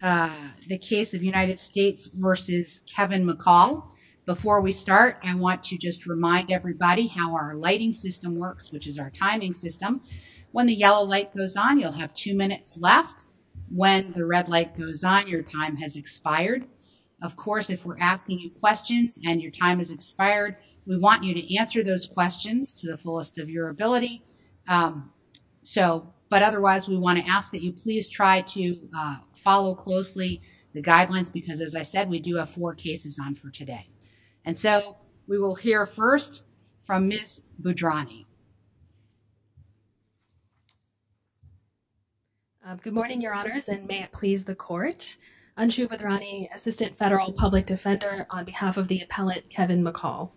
Before we start, I want to just remind everybody how our lighting system works, which is our timing system. When the yellow light goes on, you'll have two minutes left. When the red light goes on, your time has expired. Of course, if we're asking you questions and your time has expired, we want you to answer those questions to the fullest of your ability. Otherwise, we want to ask that you please try to follow closely the guidelines because, as I said, we do have four cases on for today. And so we will hear first from Ms. Bhadrani. Good morning, Your Honors, and may it please the Court. Anju Bhadrani, Assistant Federal Public Defender, on behalf of the appellate Kevin McCall.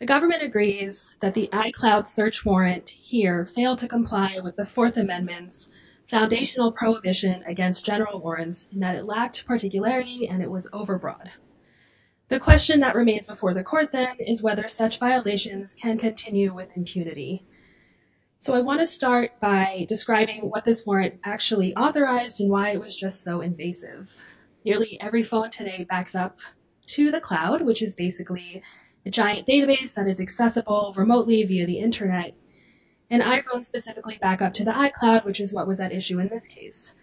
The government agrees that the iCloud search warrant here failed to comply with the Fourth Amendment's foundational prohibition against general warrants and that it lacked particularity and it was overbroad. The question that remains before the Court, then, is whether such violations can continue with impunity. So I want to start by describing what this warrant actually authorized and why it was just so invasive. Nearly every phone today backs up to the cloud, which is basically a giant database that is accessible remotely via the Internet. And iPhones specifically back up to the iCloud, which is what was at issue in this case.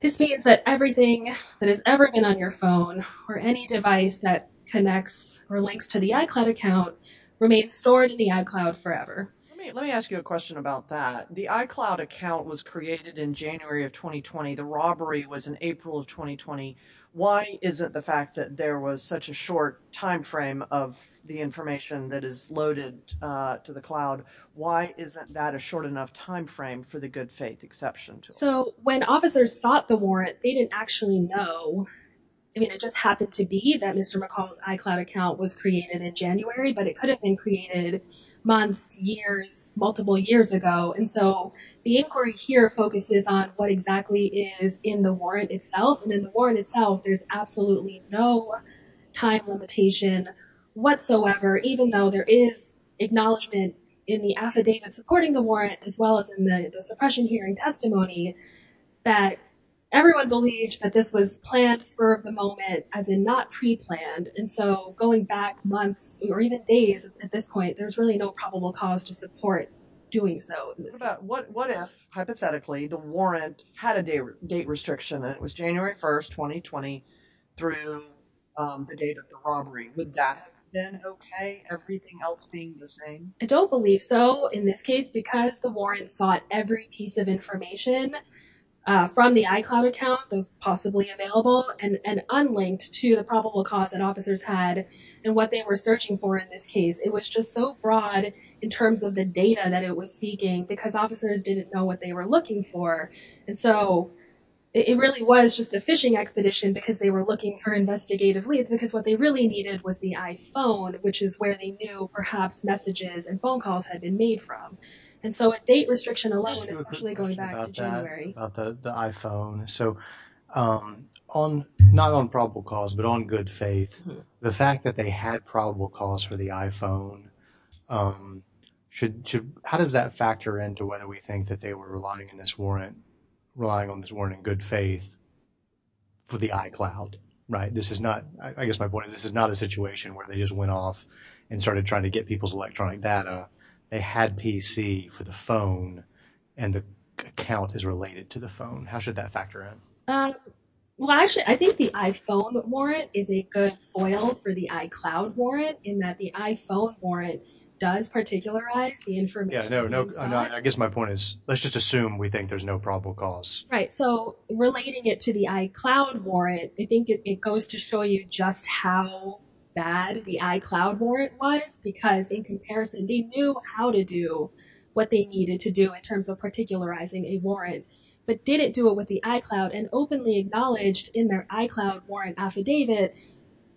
This means that everything that has ever been on your phone or any device that connects or links to the iCloud account remains stored in the iCloud forever. Let me ask you a question about that. The iCloud account was created in January of 2020. The robbery was in April of 2020. Why is it the fact that there was such a short timeframe of the information that is loaded to the cloud? Why isn't that a short enough timeframe for the good faith exception? So when officers sought the warrant, they didn't actually know. I mean, it just happened to be that Mr. McCall's iCloud account was created in January, but it could have been created months, years, multiple years ago. And so the inquiry here focuses on what exactly is in the warrant itself. And in the warrant itself, there's absolutely no time limitation whatsoever, even though there is acknowledgement in the affidavit supporting the warrant, as well as in the suppression hearing testimony, that everyone believes that this was planned to spur of the moment, as in not pre-planned. And so going back months or even days at this point, there's really no probable cause to support doing so. What if, hypothetically, the warrant had a date restriction and it was January 1st, 2020 through the date of the robbery? Would that have been okay, everything else being the same? I don't believe so in this case, because the warrant sought every piece of information from the iCloud account that was possibly available and unlinked to the probable cause that officers had and what they were searching for in this case. It was just so broad in terms of the data that it was seeking because officers didn't know what they were looking for. And so it really was just a fishing expedition because they were looking for investigative leads, because what they really needed was the iPhone, which is where they knew perhaps messages and phone calls had been made from. And so a date restriction alone, especially going back to January. The iPhone. So not on probable cause, but on good faith. The fact that they had probable cause for the iPhone, how does that factor into whether we think that they were relying on this warrant in good faith for the iCloud? Right. This is not, I guess my point is, this is not a situation where they just went off and started trying to get people's electronic data. They had PC for the phone and the account is related to the phone. How should that factor in? Well, actually, I think the iPhone warrant is a good foil for the iCloud warrant in that the iPhone warrant does particularize the information. Yeah, no, no. I guess my point is, let's just assume we think there's no probable cause. Right. So relating it to the iCloud warrant, I think it goes to show you just how bad the iCloud warrant was, because in comparison, they knew how to do what they needed to do in terms of particularizing a warrant, but didn't do it with the iCloud and openly acknowledged in their iCloud warrant affidavit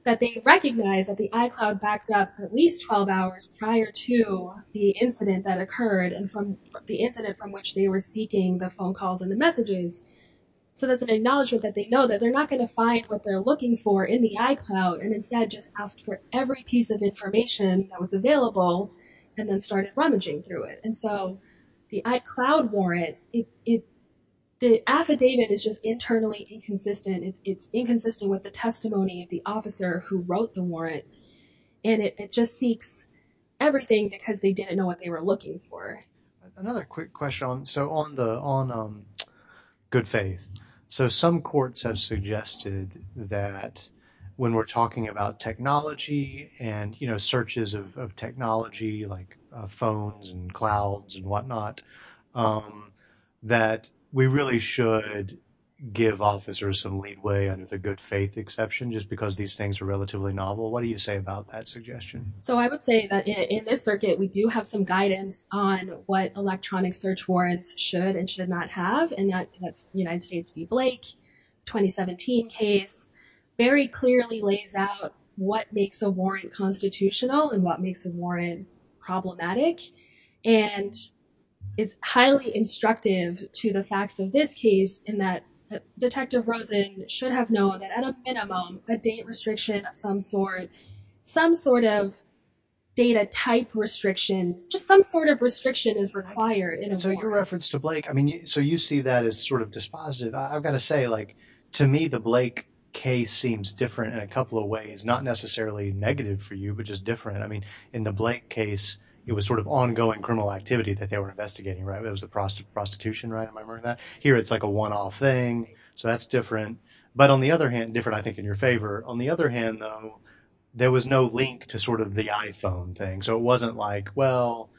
that they recognize that the iCloud backed up at least 12 hours prior to the incident that occurred and from the incident from which they were seeking the phone calls and the messages. So that's an acknowledgement that they know that they're not going to find what they're looking for in the iCloud and instead just asked for every piece of information that was available and then started rummaging through it. And so the iCloud warrant, the affidavit is just internally inconsistent. It's inconsistent with the testimony of the officer who wrote the warrant. And it just seeks everything because they didn't know what they were looking for. Another quick question on good faith. So some courts have suggested that when we're talking about technology and searches of technology like phones and clouds and whatnot, that we really should give officers some leeway under the good faith exception just because these things are relatively novel. So I would say that in this circuit, we do have some guidance on what electronic search warrants should and should not have. And that's the United States v. Blake 2017 case very clearly lays out what makes a warrant constitutional and what makes a warrant problematic. And it's highly instructive to the facts of this case in that Detective Rosen should have known that at a minimum, a date restriction of some sort, some sort of data type restrictions, just some sort of restriction is required. And so your reference to Blake, I mean, so you see that as sort of dispositive. I've got to say, like, to me, the Blake case seems different in a couple of ways, not necessarily negative for you, but just different. I mean, in the Blake case, it was sort of ongoing criminal activity that they were investigating, right? It was the prostitution, right? Am I remembering that? Here, it's like a one-off thing. So that's different. But on the other hand, different, I think, in your favor. On the other hand, though, there was no link to sort of the iPhone thing. So it wasn't like, well,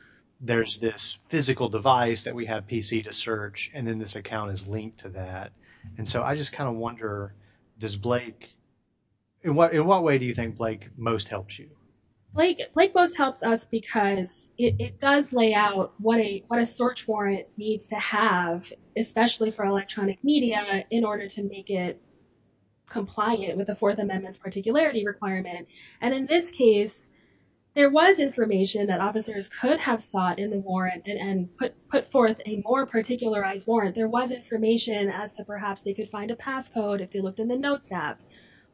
there's this physical device that we have PC to search, and then this account is linked to that. And so I just kind of wonder, does Blake – in what way do you think Blake most helps you? Blake most helps us because it does lay out what a search warrant needs to have, especially for electronic media, in order to make it compliant with the Fourth Amendment's particularity requirement. And in this case, there was information that officers could have sought in the warrant and put forth a more particularized warrant. There was information as to perhaps they could find a passcode if they looked in the notes app.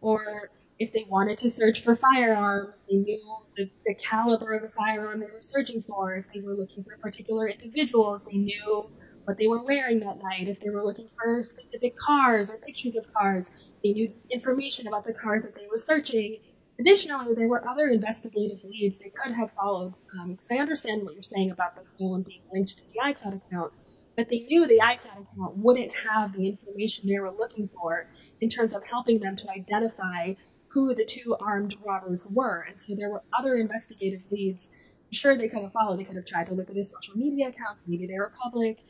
Or if they wanted to search for firearms, they knew the caliber of the firearm they were searching for. If they were looking for particular individuals, they knew what they were wearing that night. If they were looking for specific cars or pictures of cars, they knew information about the cars that they were searching. Additionally, there were other investigative leads they could have followed. Because I understand what you're saying about the phone being linked to the iPad account. But they knew the iPad account wouldn't have the information they were looking for in terms of helping them to identify who the two armed robbers were. And so there were other investigative leads. I'm sure they could have followed. They could have tried to look at his social media accounts. Maybe they were public.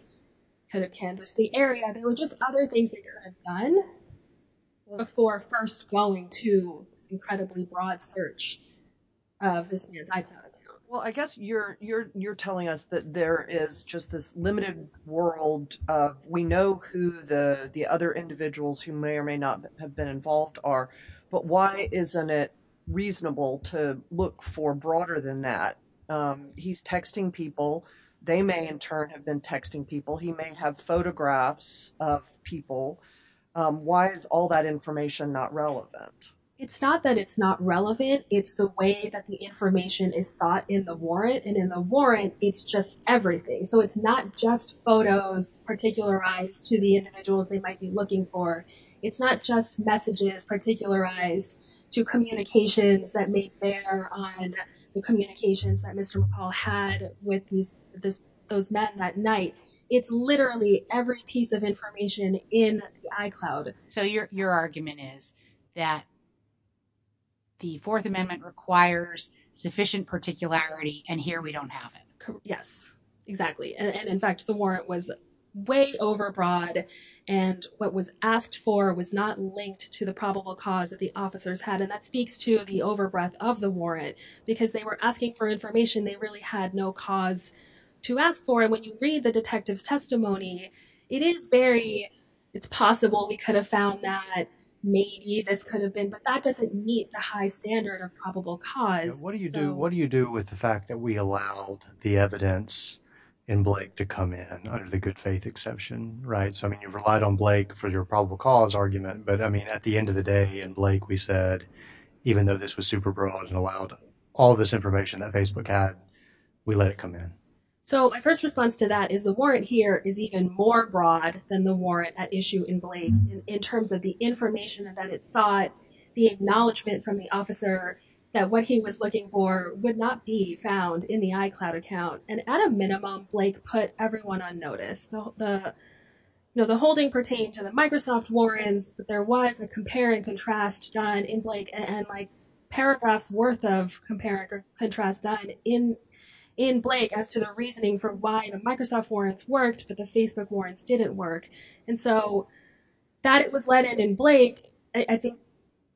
Could have canvassed the area. There were just other things they could have done before first going to this incredibly broad search of this new iPad. Well, I guess you're telling us that there is just this limited world. We know who the other individuals who may or may not have been involved are. But why isn't it reasonable to look for broader than that? He's texting people. They may, in turn, have been texting people. He may have photographs of people. Why is all that information not relevant? It's not that it's not relevant. It's the way that the information is sought in the warrant. And in the warrant, it's just everything. So it's not just photos particularized to the individuals they might be looking for. It's not just messages particularized to communications that may bear on the communications that Mr. McCall had with those men that night. It's literally every piece of information in the iCloud. So your argument is that the Fourth Amendment requires sufficient particularity, and here we don't have it. Yes, exactly. And, in fact, the warrant was way overbroad, and what was asked for was not linked to the probable cause that the officers had. And that speaks to the overbreath of the warrant, because they were asking for information they really had no cause to ask for. And when you read the detective's testimony, it is very, it's possible we could have found that maybe this could have been, but that doesn't meet the high standard of probable cause. What do you do with the fact that we allowed the evidence in Blake to come in under the good faith exception, right? So, I mean, you've relied on Blake for your probable cause argument, but, I mean, at the end of the day, in Blake, we said, even though this was super broad and allowed all this information that Facebook had, we let it come in. So my first response to that is the warrant here is even more broad than the warrant at issue in Blake, in terms of the information that it sought, the acknowledgement from the officer that what he was looking for would not be found in the iCloud account. And at a minimum, Blake put everyone on notice. The holding pertained to the Microsoft warrants, but there was a compare and contrast done in Blake and paragraphs worth of compare and contrast done in Blake as to the reasoning for why the Microsoft warrants worked, but the Facebook warrants didn't work. And so that it was let in in Blake, I think,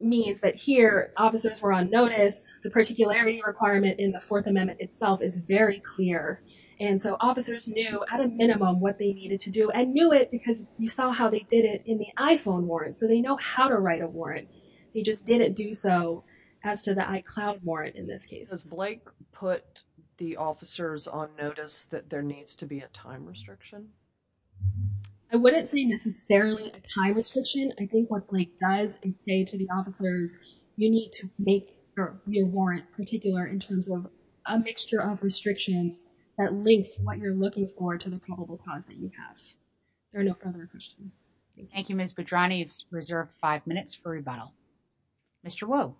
means that here officers were on notice. The particularity requirement in the Fourth Amendment itself is very clear. And so officers knew at a minimum what they needed to do and knew it because you saw how they did it in the iPhone warrants. So they know how to write a warrant. They just didn't do so as to the iCloud warrant in this case. Does Blake put the officers on notice that there needs to be a time restriction? I wouldn't say necessarily a time restriction. I think what Blake does is say to the officers, you need to make your warrant particular in terms of a mixture of restrictions that links what you're looking for to the probable cause that you have. There are no further questions. Thank you, Miss Petroni. It's reserved five minutes for rebuttal. Mr. Wu.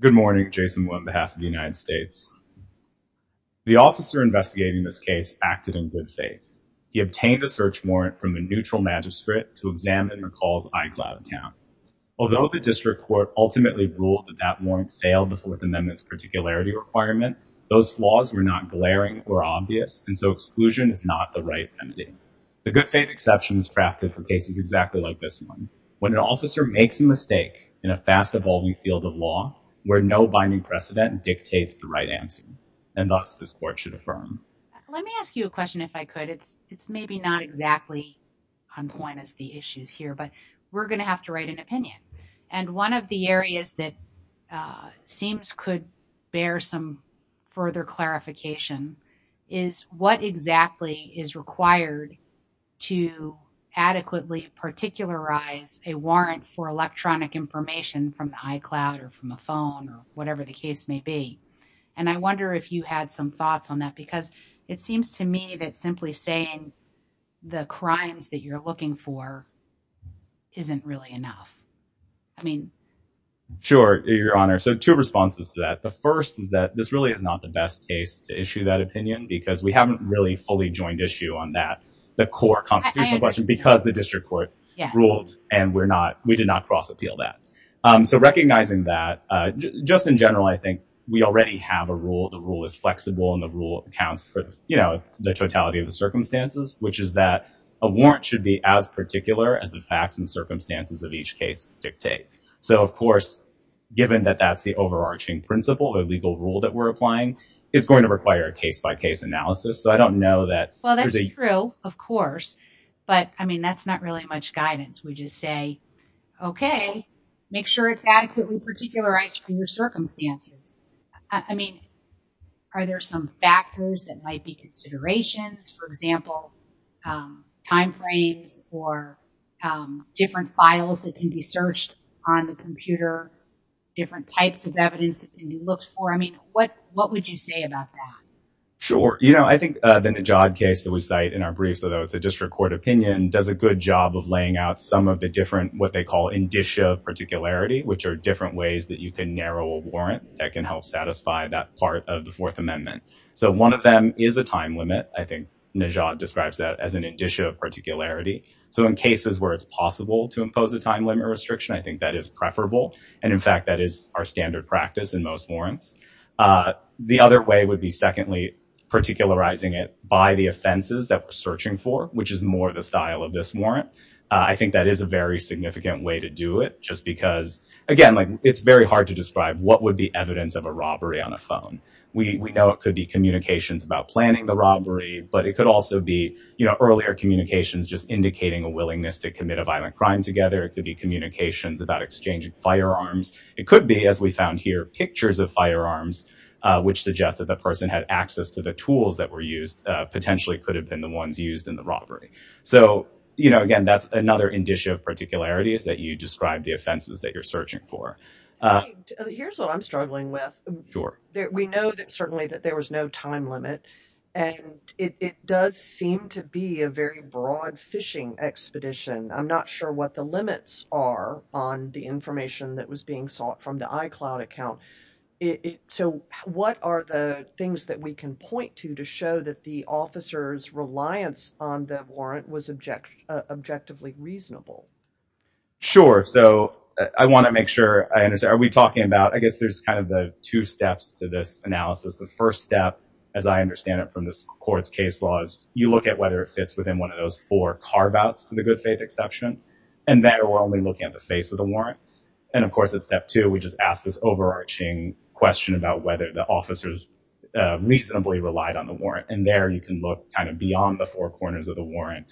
Good morning, Jason, on behalf of the United States. The officer investigating this case acted in good faith. He obtained a search warrant from a neutral magistrate to examine McCall's iCloud account. Although the district court ultimately ruled that that warrant failed the Fourth Amendment's particularity requirement, those flaws were not glaring or obvious. And so exclusion is not the right remedy. The good faith exception is crafted for cases exactly like this one, when an officer makes a mistake in a fast-evolving field of law where no binding precedent dictates the right answer. And thus, this court should affirm. Let me ask you a question, if I could. It's maybe not exactly on point as the issues here, but we're going to have to write an opinion. And one of the areas that seems could bear some further clarification is what exactly is required to adequately particularize a warrant for electronic information from the iCloud or from a phone or whatever the case may be. And I wonder if you had some thoughts on that, because it seems to me that simply saying the crimes that you're looking for isn't really enough. I mean, sure, Your Honor. So two responses to that. The first is that this really is not the best case to issue that opinion because we haven't really fully joined issue on that. And the second response is that this is not the best case to issue that opinion because we haven't really fully joined issue on that. So recognizing that, just in general, I think we already have a rule. The rule is flexible and the rule accounts for, you know, the totality of the circumstances, which is that a warrant should be as particular as the facts and circumstances of each case dictate. So, of course, given that that's the overarching principle or legal rule that we're applying, it's going to require a case-by-case analysis. So I don't know that there's a- Well, that's true, of course. But I mean, that's not really much guidance. We just say, okay, make sure it's adequately particularized for your circumstances. I mean, are there some factors that might be considerations, for example, timeframes or different files that can be searched on the computer, different types of evidence that can be looked for? I mean, what would you say about that? Sure. You know, I think the Najad case that we cite in our briefs, although it's a district court opinion, does a good job of laying out some of the different what they call indicia of particularity, which are different ways that you can narrow a warrant that can help satisfy that part of the Fourth Amendment. So one of them is a time limit. I think Najad describes that as an indicia of particularity. So in cases where it's possible to impose a time limit restriction, I think that is preferable. And in fact, that is our standard practice in most warrants. The other way would be, secondly, particularizing it by the offenses that we're searching for, which is more the style of this warrant. I think that is a very significant way to do it, just because, again, it's very hard to describe what would be evidence of a robbery on a phone. We know it could be communications about planning the robbery, but it could also be, you know, earlier communications just indicating a willingness to commit a violent crime together. It could be communications about exchanging firearms. It could be, as we found here, pictures of firearms, which suggests that the person had access to the tools that were used potentially could have been the ones used in the robbery. So, you know, again, that's another indicia of particularity is that you describe the offenses that you're searching for. Here's what I'm struggling with. We know that certainly that there was no time limit, and it does seem to be a very broad phishing expedition. I'm not sure what the limits are on the information that was being sought from the iCloud account. So what are the things that we can point to to show that the officer's reliance on the warrant was objectively reasonable? Sure. So I want to make sure I understand. Are we talking about I guess there's kind of the two steps to this analysis. The first step, as I understand it from this court's case law, is you look at whether it fits within one of those four carve outs to the good faith exception. And then we're only looking at the face of the warrant. And of course, at step two, we just ask this overarching question about whether the officers reasonably relied on the warrant. And there you can look kind of beyond the four corners of the warrant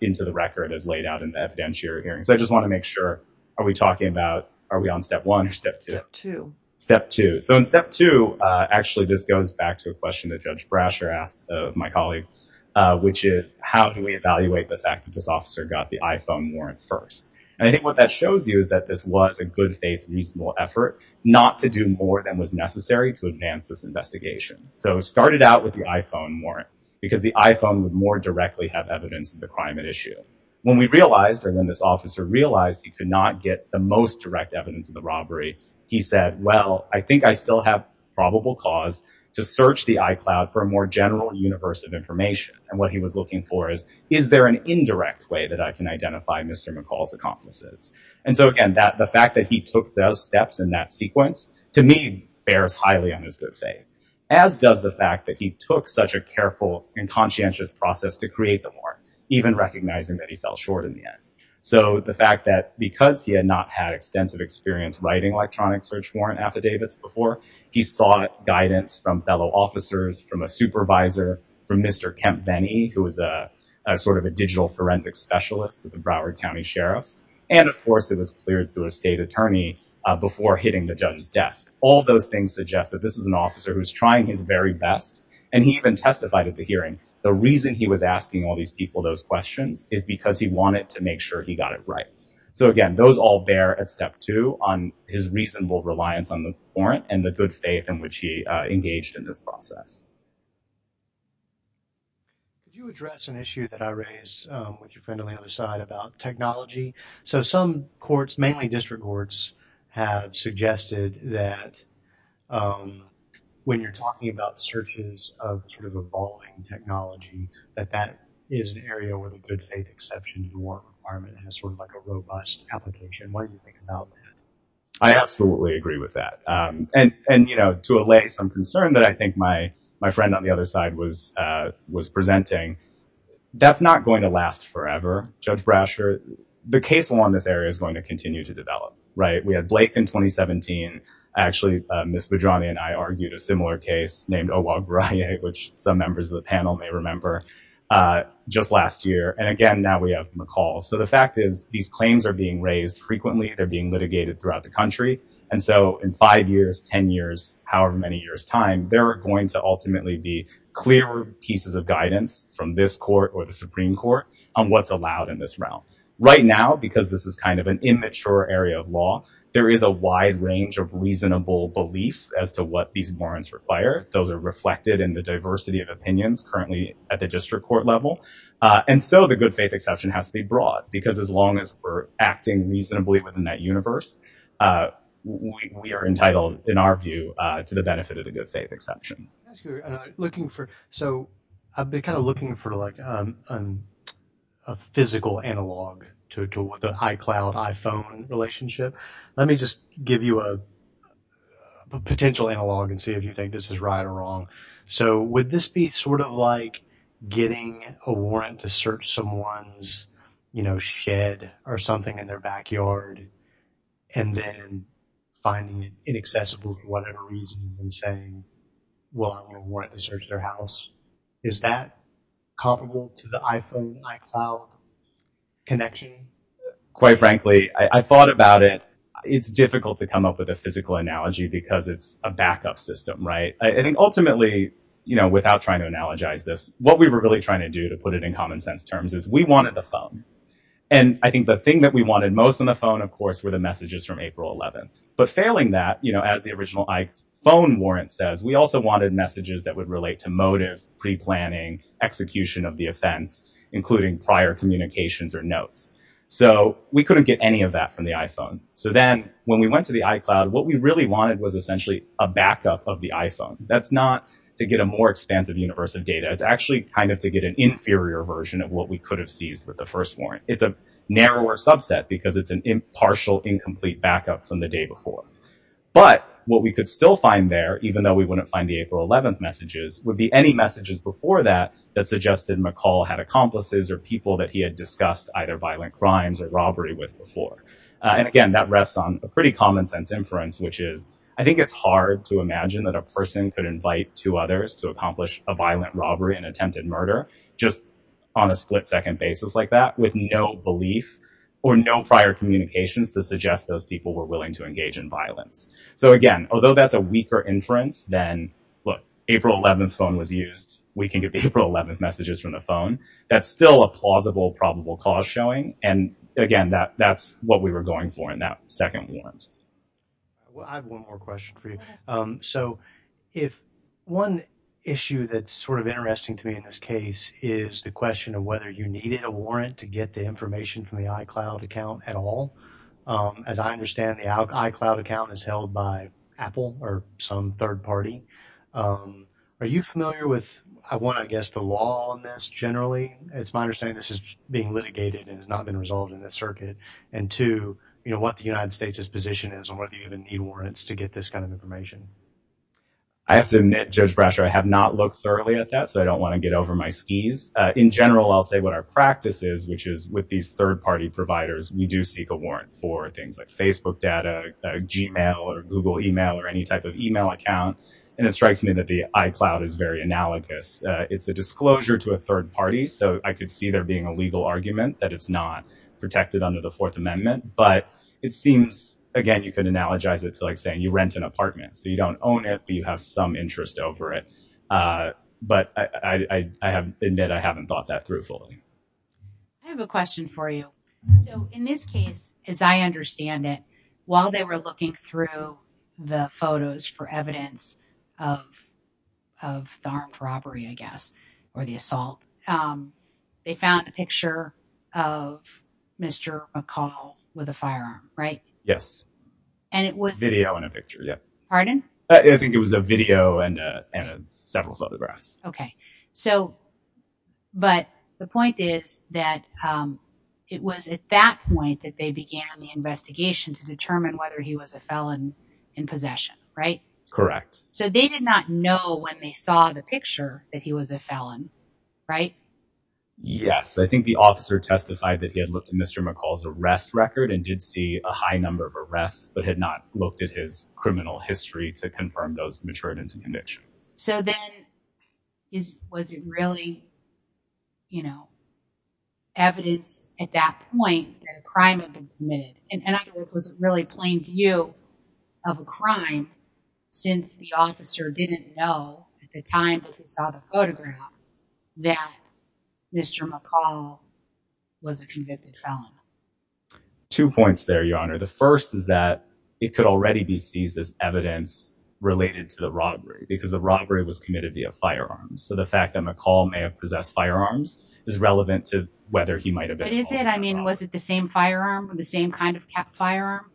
into the record as laid out in the evidentiary hearing. So I just want to make sure. Are we talking about are we on step one or step two? Step two. So in step two, actually, this goes back to a question that Judge Brasher asked my colleague, which is how do we evaluate the fact that this officer got the iPhone warrant first? And I think what that shows you is that this was a good faith, reasonable effort not to do more than was necessary to advance this investigation. So it started out with the iPhone warrant because the iPhone would more directly have evidence of the crime at issue. When we realized or when this officer realized he could not get the most direct evidence of the robbery, he said, well, I think I still have probable cause to search the iCloud for a more general universe of information. And what he was looking for is, is there an indirect way that I can identify Mr. McCall's accomplices? And so, again, the fact that he took those steps in that sequence, to me, bears highly on his good faith, as does the fact that he took such a careful and conscientious process to create the warrant, even recognizing that he fell short in the end. So the fact that because he had not had extensive experience writing electronic search warrant affidavits before, he sought guidance from fellow officers, from a supervisor, from Mr. Kemp Vennie, who was a sort of a digital forensic specialist with the Broward County Sheriff's. And of course, it was cleared through a state attorney before hitting the judge's desk. All those things suggest that this is an officer who's trying his very best. And he even testified at the hearing. The reason he was asking all these people those questions is because he wanted to make sure he got it right. So, again, those all bear at step two on his reasonable reliance on the warrant and the good faith in which he engaged in this process. Could you address an issue that I raised with your friend on the other side about technology? So some courts, mainly district courts, have suggested that when you're talking about searches of sort of evolving technology, that that is an area where the good faith exception to the warrant requirement has sort of like a robust application. Why do you think about that? I absolutely agree with that. And, you know, to allay some concern that I think my friend on the other side was was presenting, that's not going to last forever. Judge Brasher, the case along this area is going to continue to develop. Right. We had Blake in 2017. Actually, Ms. Bedrani and I argued a similar case named Obagbaraye, which some members of the panel may remember, just last year. And again, now we have McCall. So the fact is these claims are being raised frequently. They're being litigated throughout the country. And so in five years, 10 years, however many years time, there are going to ultimately be clearer pieces of guidance from this court or the Supreme Court on what's allowed in this realm right now, because this is kind of an immature area of law. There is a wide range of reasonable beliefs as to what these warrants require. Those are reflected in the diversity of opinions currently at the district court level. And so the good faith exception has to be broad, because as long as we're acting reasonably within that universe, we are entitled, in our view, to the benefit of the good faith exception. So I've been kind of looking for a physical analog to the iCloud, iPhone relationship. Let me just give you a potential analog and see if you think this is right or wrong. So would this be sort of like getting a warrant to search someone's, you know, shed or something in their backyard, and then finding it inaccessible for whatever reason and saying, well, I'm going to warrant to search their house? Is that comparable to the iPhone iCloud connection? Quite frankly, I thought about it. It's difficult to come up with a physical analogy because it's a backup system, right? I think ultimately, you know, without trying to analogize this, what we were really trying to do to put it in common sense terms is we wanted the phone. And I think the thing that we wanted most on the phone, of course, were the messages from April 11th. But failing that, you know, as the original iPhone warrant says, we also wanted messages that would relate to motive, pre-planning, execution of the offense, including prior communications or notes. So we couldn't get any of that from the iPhone. So then when we went to the iCloud, what we really wanted was essentially a backup of the iPhone. That's not to get a more expansive universe of data. It's actually kind of to get an inferior version of what we could have seized with the first warrant. It's a narrower subset because it's an impartial, incomplete backup from the day before. But what we could still find there, even though we wouldn't find the April 11th messages, would be any messages before that that suggested McCall had accomplices or people that he had discussed either violent crimes or robbery with before. And again, that rests on a pretty common sense inference, which is I think it's hard to imagine that a person could invite two others to accomplish a violent robbery and attempted murder just on a split second basis like that. So we had to come up with no belief or no prior communications to suggest those people were willing to engage in violence. So again, although that's a weaker inference than, look, April 11th phone was used. We can get the April 11th messages from the phone. That's still a plausible, probable cause showing. And again, that's what we were going for in that second warrant. Well, I have one more question for you. So if one issue that's sort of interesting to me in this case is the question of whether you needed a warrant to get the information from the iCloud account at all. As I understand, the iCloud account is held by Apple or some third party. Are you familiar with, I want to guess, the law on this generally? It's my understanding this is being litigated and has not been resolved in the circuit. And two, what the United States' position is on whether you even need warrants to get this kind of information. I have to admit, Judge Brasher, I have not looked thoroughly at that, so I don't want to get over my skis. In general, I'll say what our practice is, which is with these third party providers, we do seek a warrant for things like Facebook data, Gmail or Google email or any type of email account. And it strikes me that the iCloud is very analogous. It's a disclosure to a third party. So I could see there being a legal argument that it's not protected under the Fourth Amendment. But it seems, again, you can analogize it to like saying you rent an apartment, so you don't own it, but you have some interest over it. But I admit I haven't thought that through fully. I have a question for you. So in this case, as I understand it, while they were looking through the photos for evidence of the armed robbery, I guess, or the assault, they found a picture of Mr. McCall with a firearm, right? Yes. Video and a picture, yeah. Pardon? I think it was a video and several photographs. Okay. But the point is that it was at that point that they began the investigation to determine whether he was a felon in possession, right? Correct. So they did not know when they saw the picture that he was a felon, right? Yes. I think the officer testified that he had looked at Mr. McCall's arrest record and did see a high number of arrests, but had not looked at his criminal history to confirm those matured into convictions. So then was it really evidence at that point that a crime had been committed? In other words, was it really plain view of a crime since the officer didn't know at the time that he saw the photograph that Mr. McCall was a convicted felon? Two points there, Your Honor. The first is that it could already be seized as evidence related to the robbery because the robbery was committed via firearms. So the fact that McCall may have possessed firearms is relevant to whether he might have been a felon. But is it? I mean, was it the same firearm or the same kind of firearm?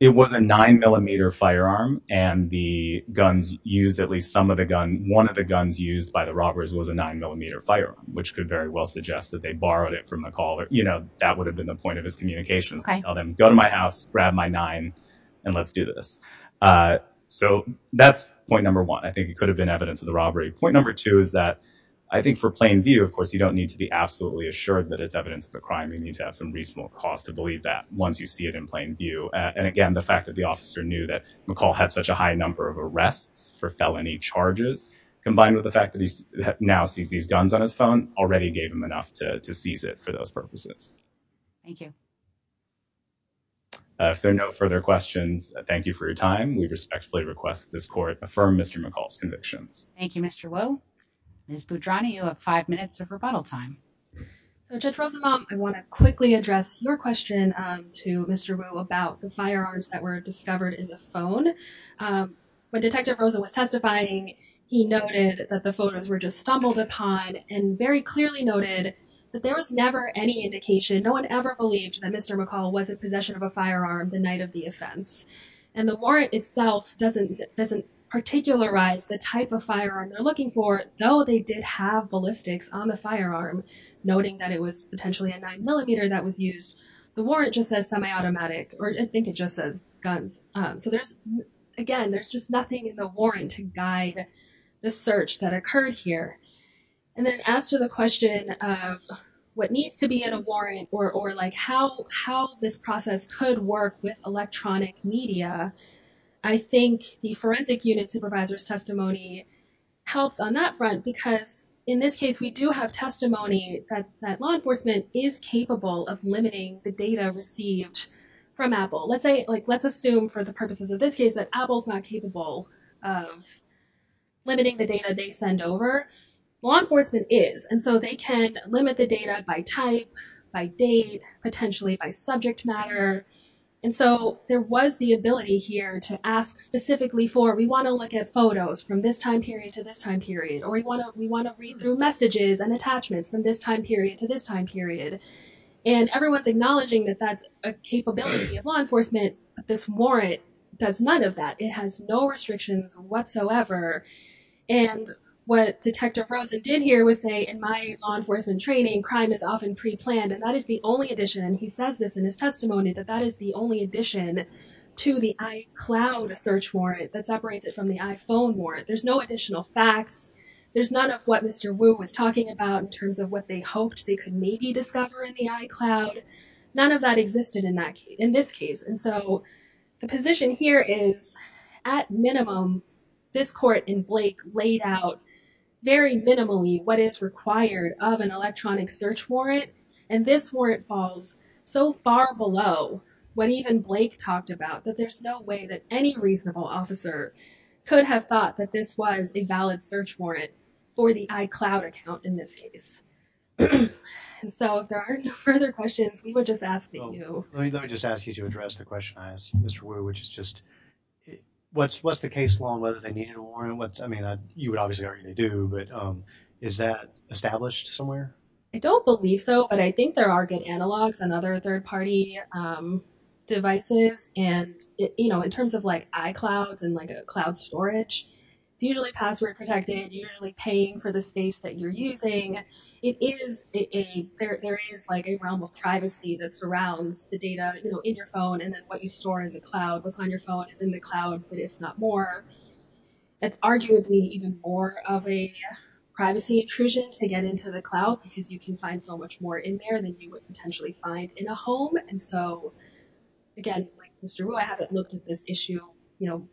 It was a nine millimeter firearm and the guns used, at least some of the gun, one of the guns used by the robbers was a nine millimeter firearm, which could very well suggest that they borrowed it from McCall. You know, that would have been the point of his communications. Tell them, go to my house, grab my nine and let's do this. So that's point number one. I think it could have been evidence of the robbery. Point number two is that I think for plain view, of course, you don't need to be absolutely assured that it's evidence of a crime. You need to have some reasonable cause to believe that once you see it in plain view. And again, the fact that the officer knew that McCall had such a high number of arrests for felony charges, combined with the fact that he now sees these guns on his phone already gave him enough to seize it for those purposes. Thank you. If there are no further questions, thank you for your time. We respectfully request this court affirm Mr. McCall's convictions. Thank you, Mr. Wu. Ms. Boudrani, you have five minutes of rebuttal time. Judge Rosenbaum, I want to quickly address your question to Mr. Wu about the firearms that were discovered in the phone. When Detective Rosa was testifying, he noted that the photos were just stumbled upon and very clearly noted that there was never any indication. No one ever believed that Mr. McCall was in possession of a firearm the night of the offense. And the warrant itself doesn't particularize the type of firearm they're looking for, though they did have ballistics on the firearm, noting that it was potentially a nine millimeter that was used. The warrant just says semi-automatic, or I think it just says guns. So there's, again, there's just nothing in the warrant to guide the search that occurred here. And then as to the question of what needs to be in a warrant or like how this process could work with electronic media, I think the forensic unit supervisor's testimony helps on that front because in this case we do have testimony that law enforcement is capable of limiting the data received from Apple. Let's assume for the purposes of this case that Apple's not capable of limiting the data they send over. Law enforcement is, and so they can limit the data by type, by date, potentially by subject matter. And so there was the ability here to ask specifically for, we want to look at photos from this time period to this time period, or we want to read through messages and attachments from this time period to this time period. And everyone's acknowledging that that's a capability of law enforcement, but this warrant does none of that. It has no restrictions whatsoever. And what Detective Rosen did here was say, in my law enforcement training, crime is often pre-planned. And that is the only addition, and he says this in his testimony, that that is the only addition to the iCloud search warrant that separates it from the iPhone warrant. There's no additional facts. There's none of what Mr. Wu was talking about in terms of what they hoped they could maybe discover in the iCloud. None of that existed in this case. And so the position here is, at minimum, this court in Blake laid out very minimally what is required of an electronic search warrant. And this warrant falls so far below what even Blake talked about that there's no way that any reasonable officer could have thought that this was a valid search warrant for the iCloud account in this case. And so if there are no further questions, we would just ask that you... Let me just ask you to address the question I asked Mr. Wu, which is just, what's the case law and whether they needed a warrant? I mean, you would obviously argue they do, but is that established somewhere? I don't believe so, but I think there are good analogs and other third-party devices. And in terms of iClouds and cloud storage, it's usually password protected, usually paying for the space that you're using. There is a realm of privacy that surrounds the data in your phone and then what you store in the cloud, what's on your phone is in the cloud. But if not more, it's arguably even more of a privacy intrusion to get into the cloud because you can find so much more in there than you would potentially find in a home. And so, again, like Mr. Wu, I haven't looked at this issue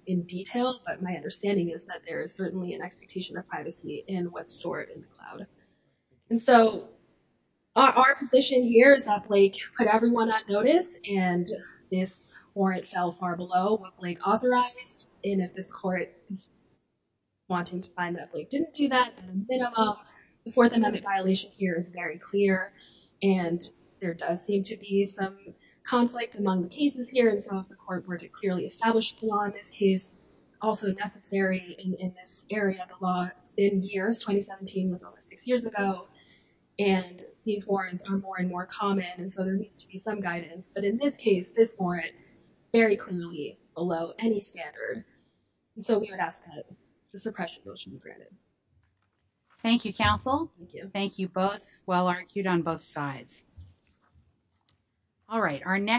in detail, but my understanding is that there is certainly an expectation of privacy in what's stored in the cloud. And so, our position here is that Blake put everyone on notice and this warrant fell far below what Blake authorized. And if this court is wanting to find that Blake didn't do that, at a minimum, the Fourth Amendment violation here is very clear. And there does seem to be some conflict among the cases here, and so if the court were to clearly establish the law in this case, it's also necessary in this area. The law, it's been years, 2017 was almost six years ago, and these warrants are more and more common, and so there needs to be some guidance. But in this case, this warrant, very clearly below any standard. And so, we would ask that the suppression motion be granted. Thank you, counsel. Thank you both. Well argued on both sides. All right, our next.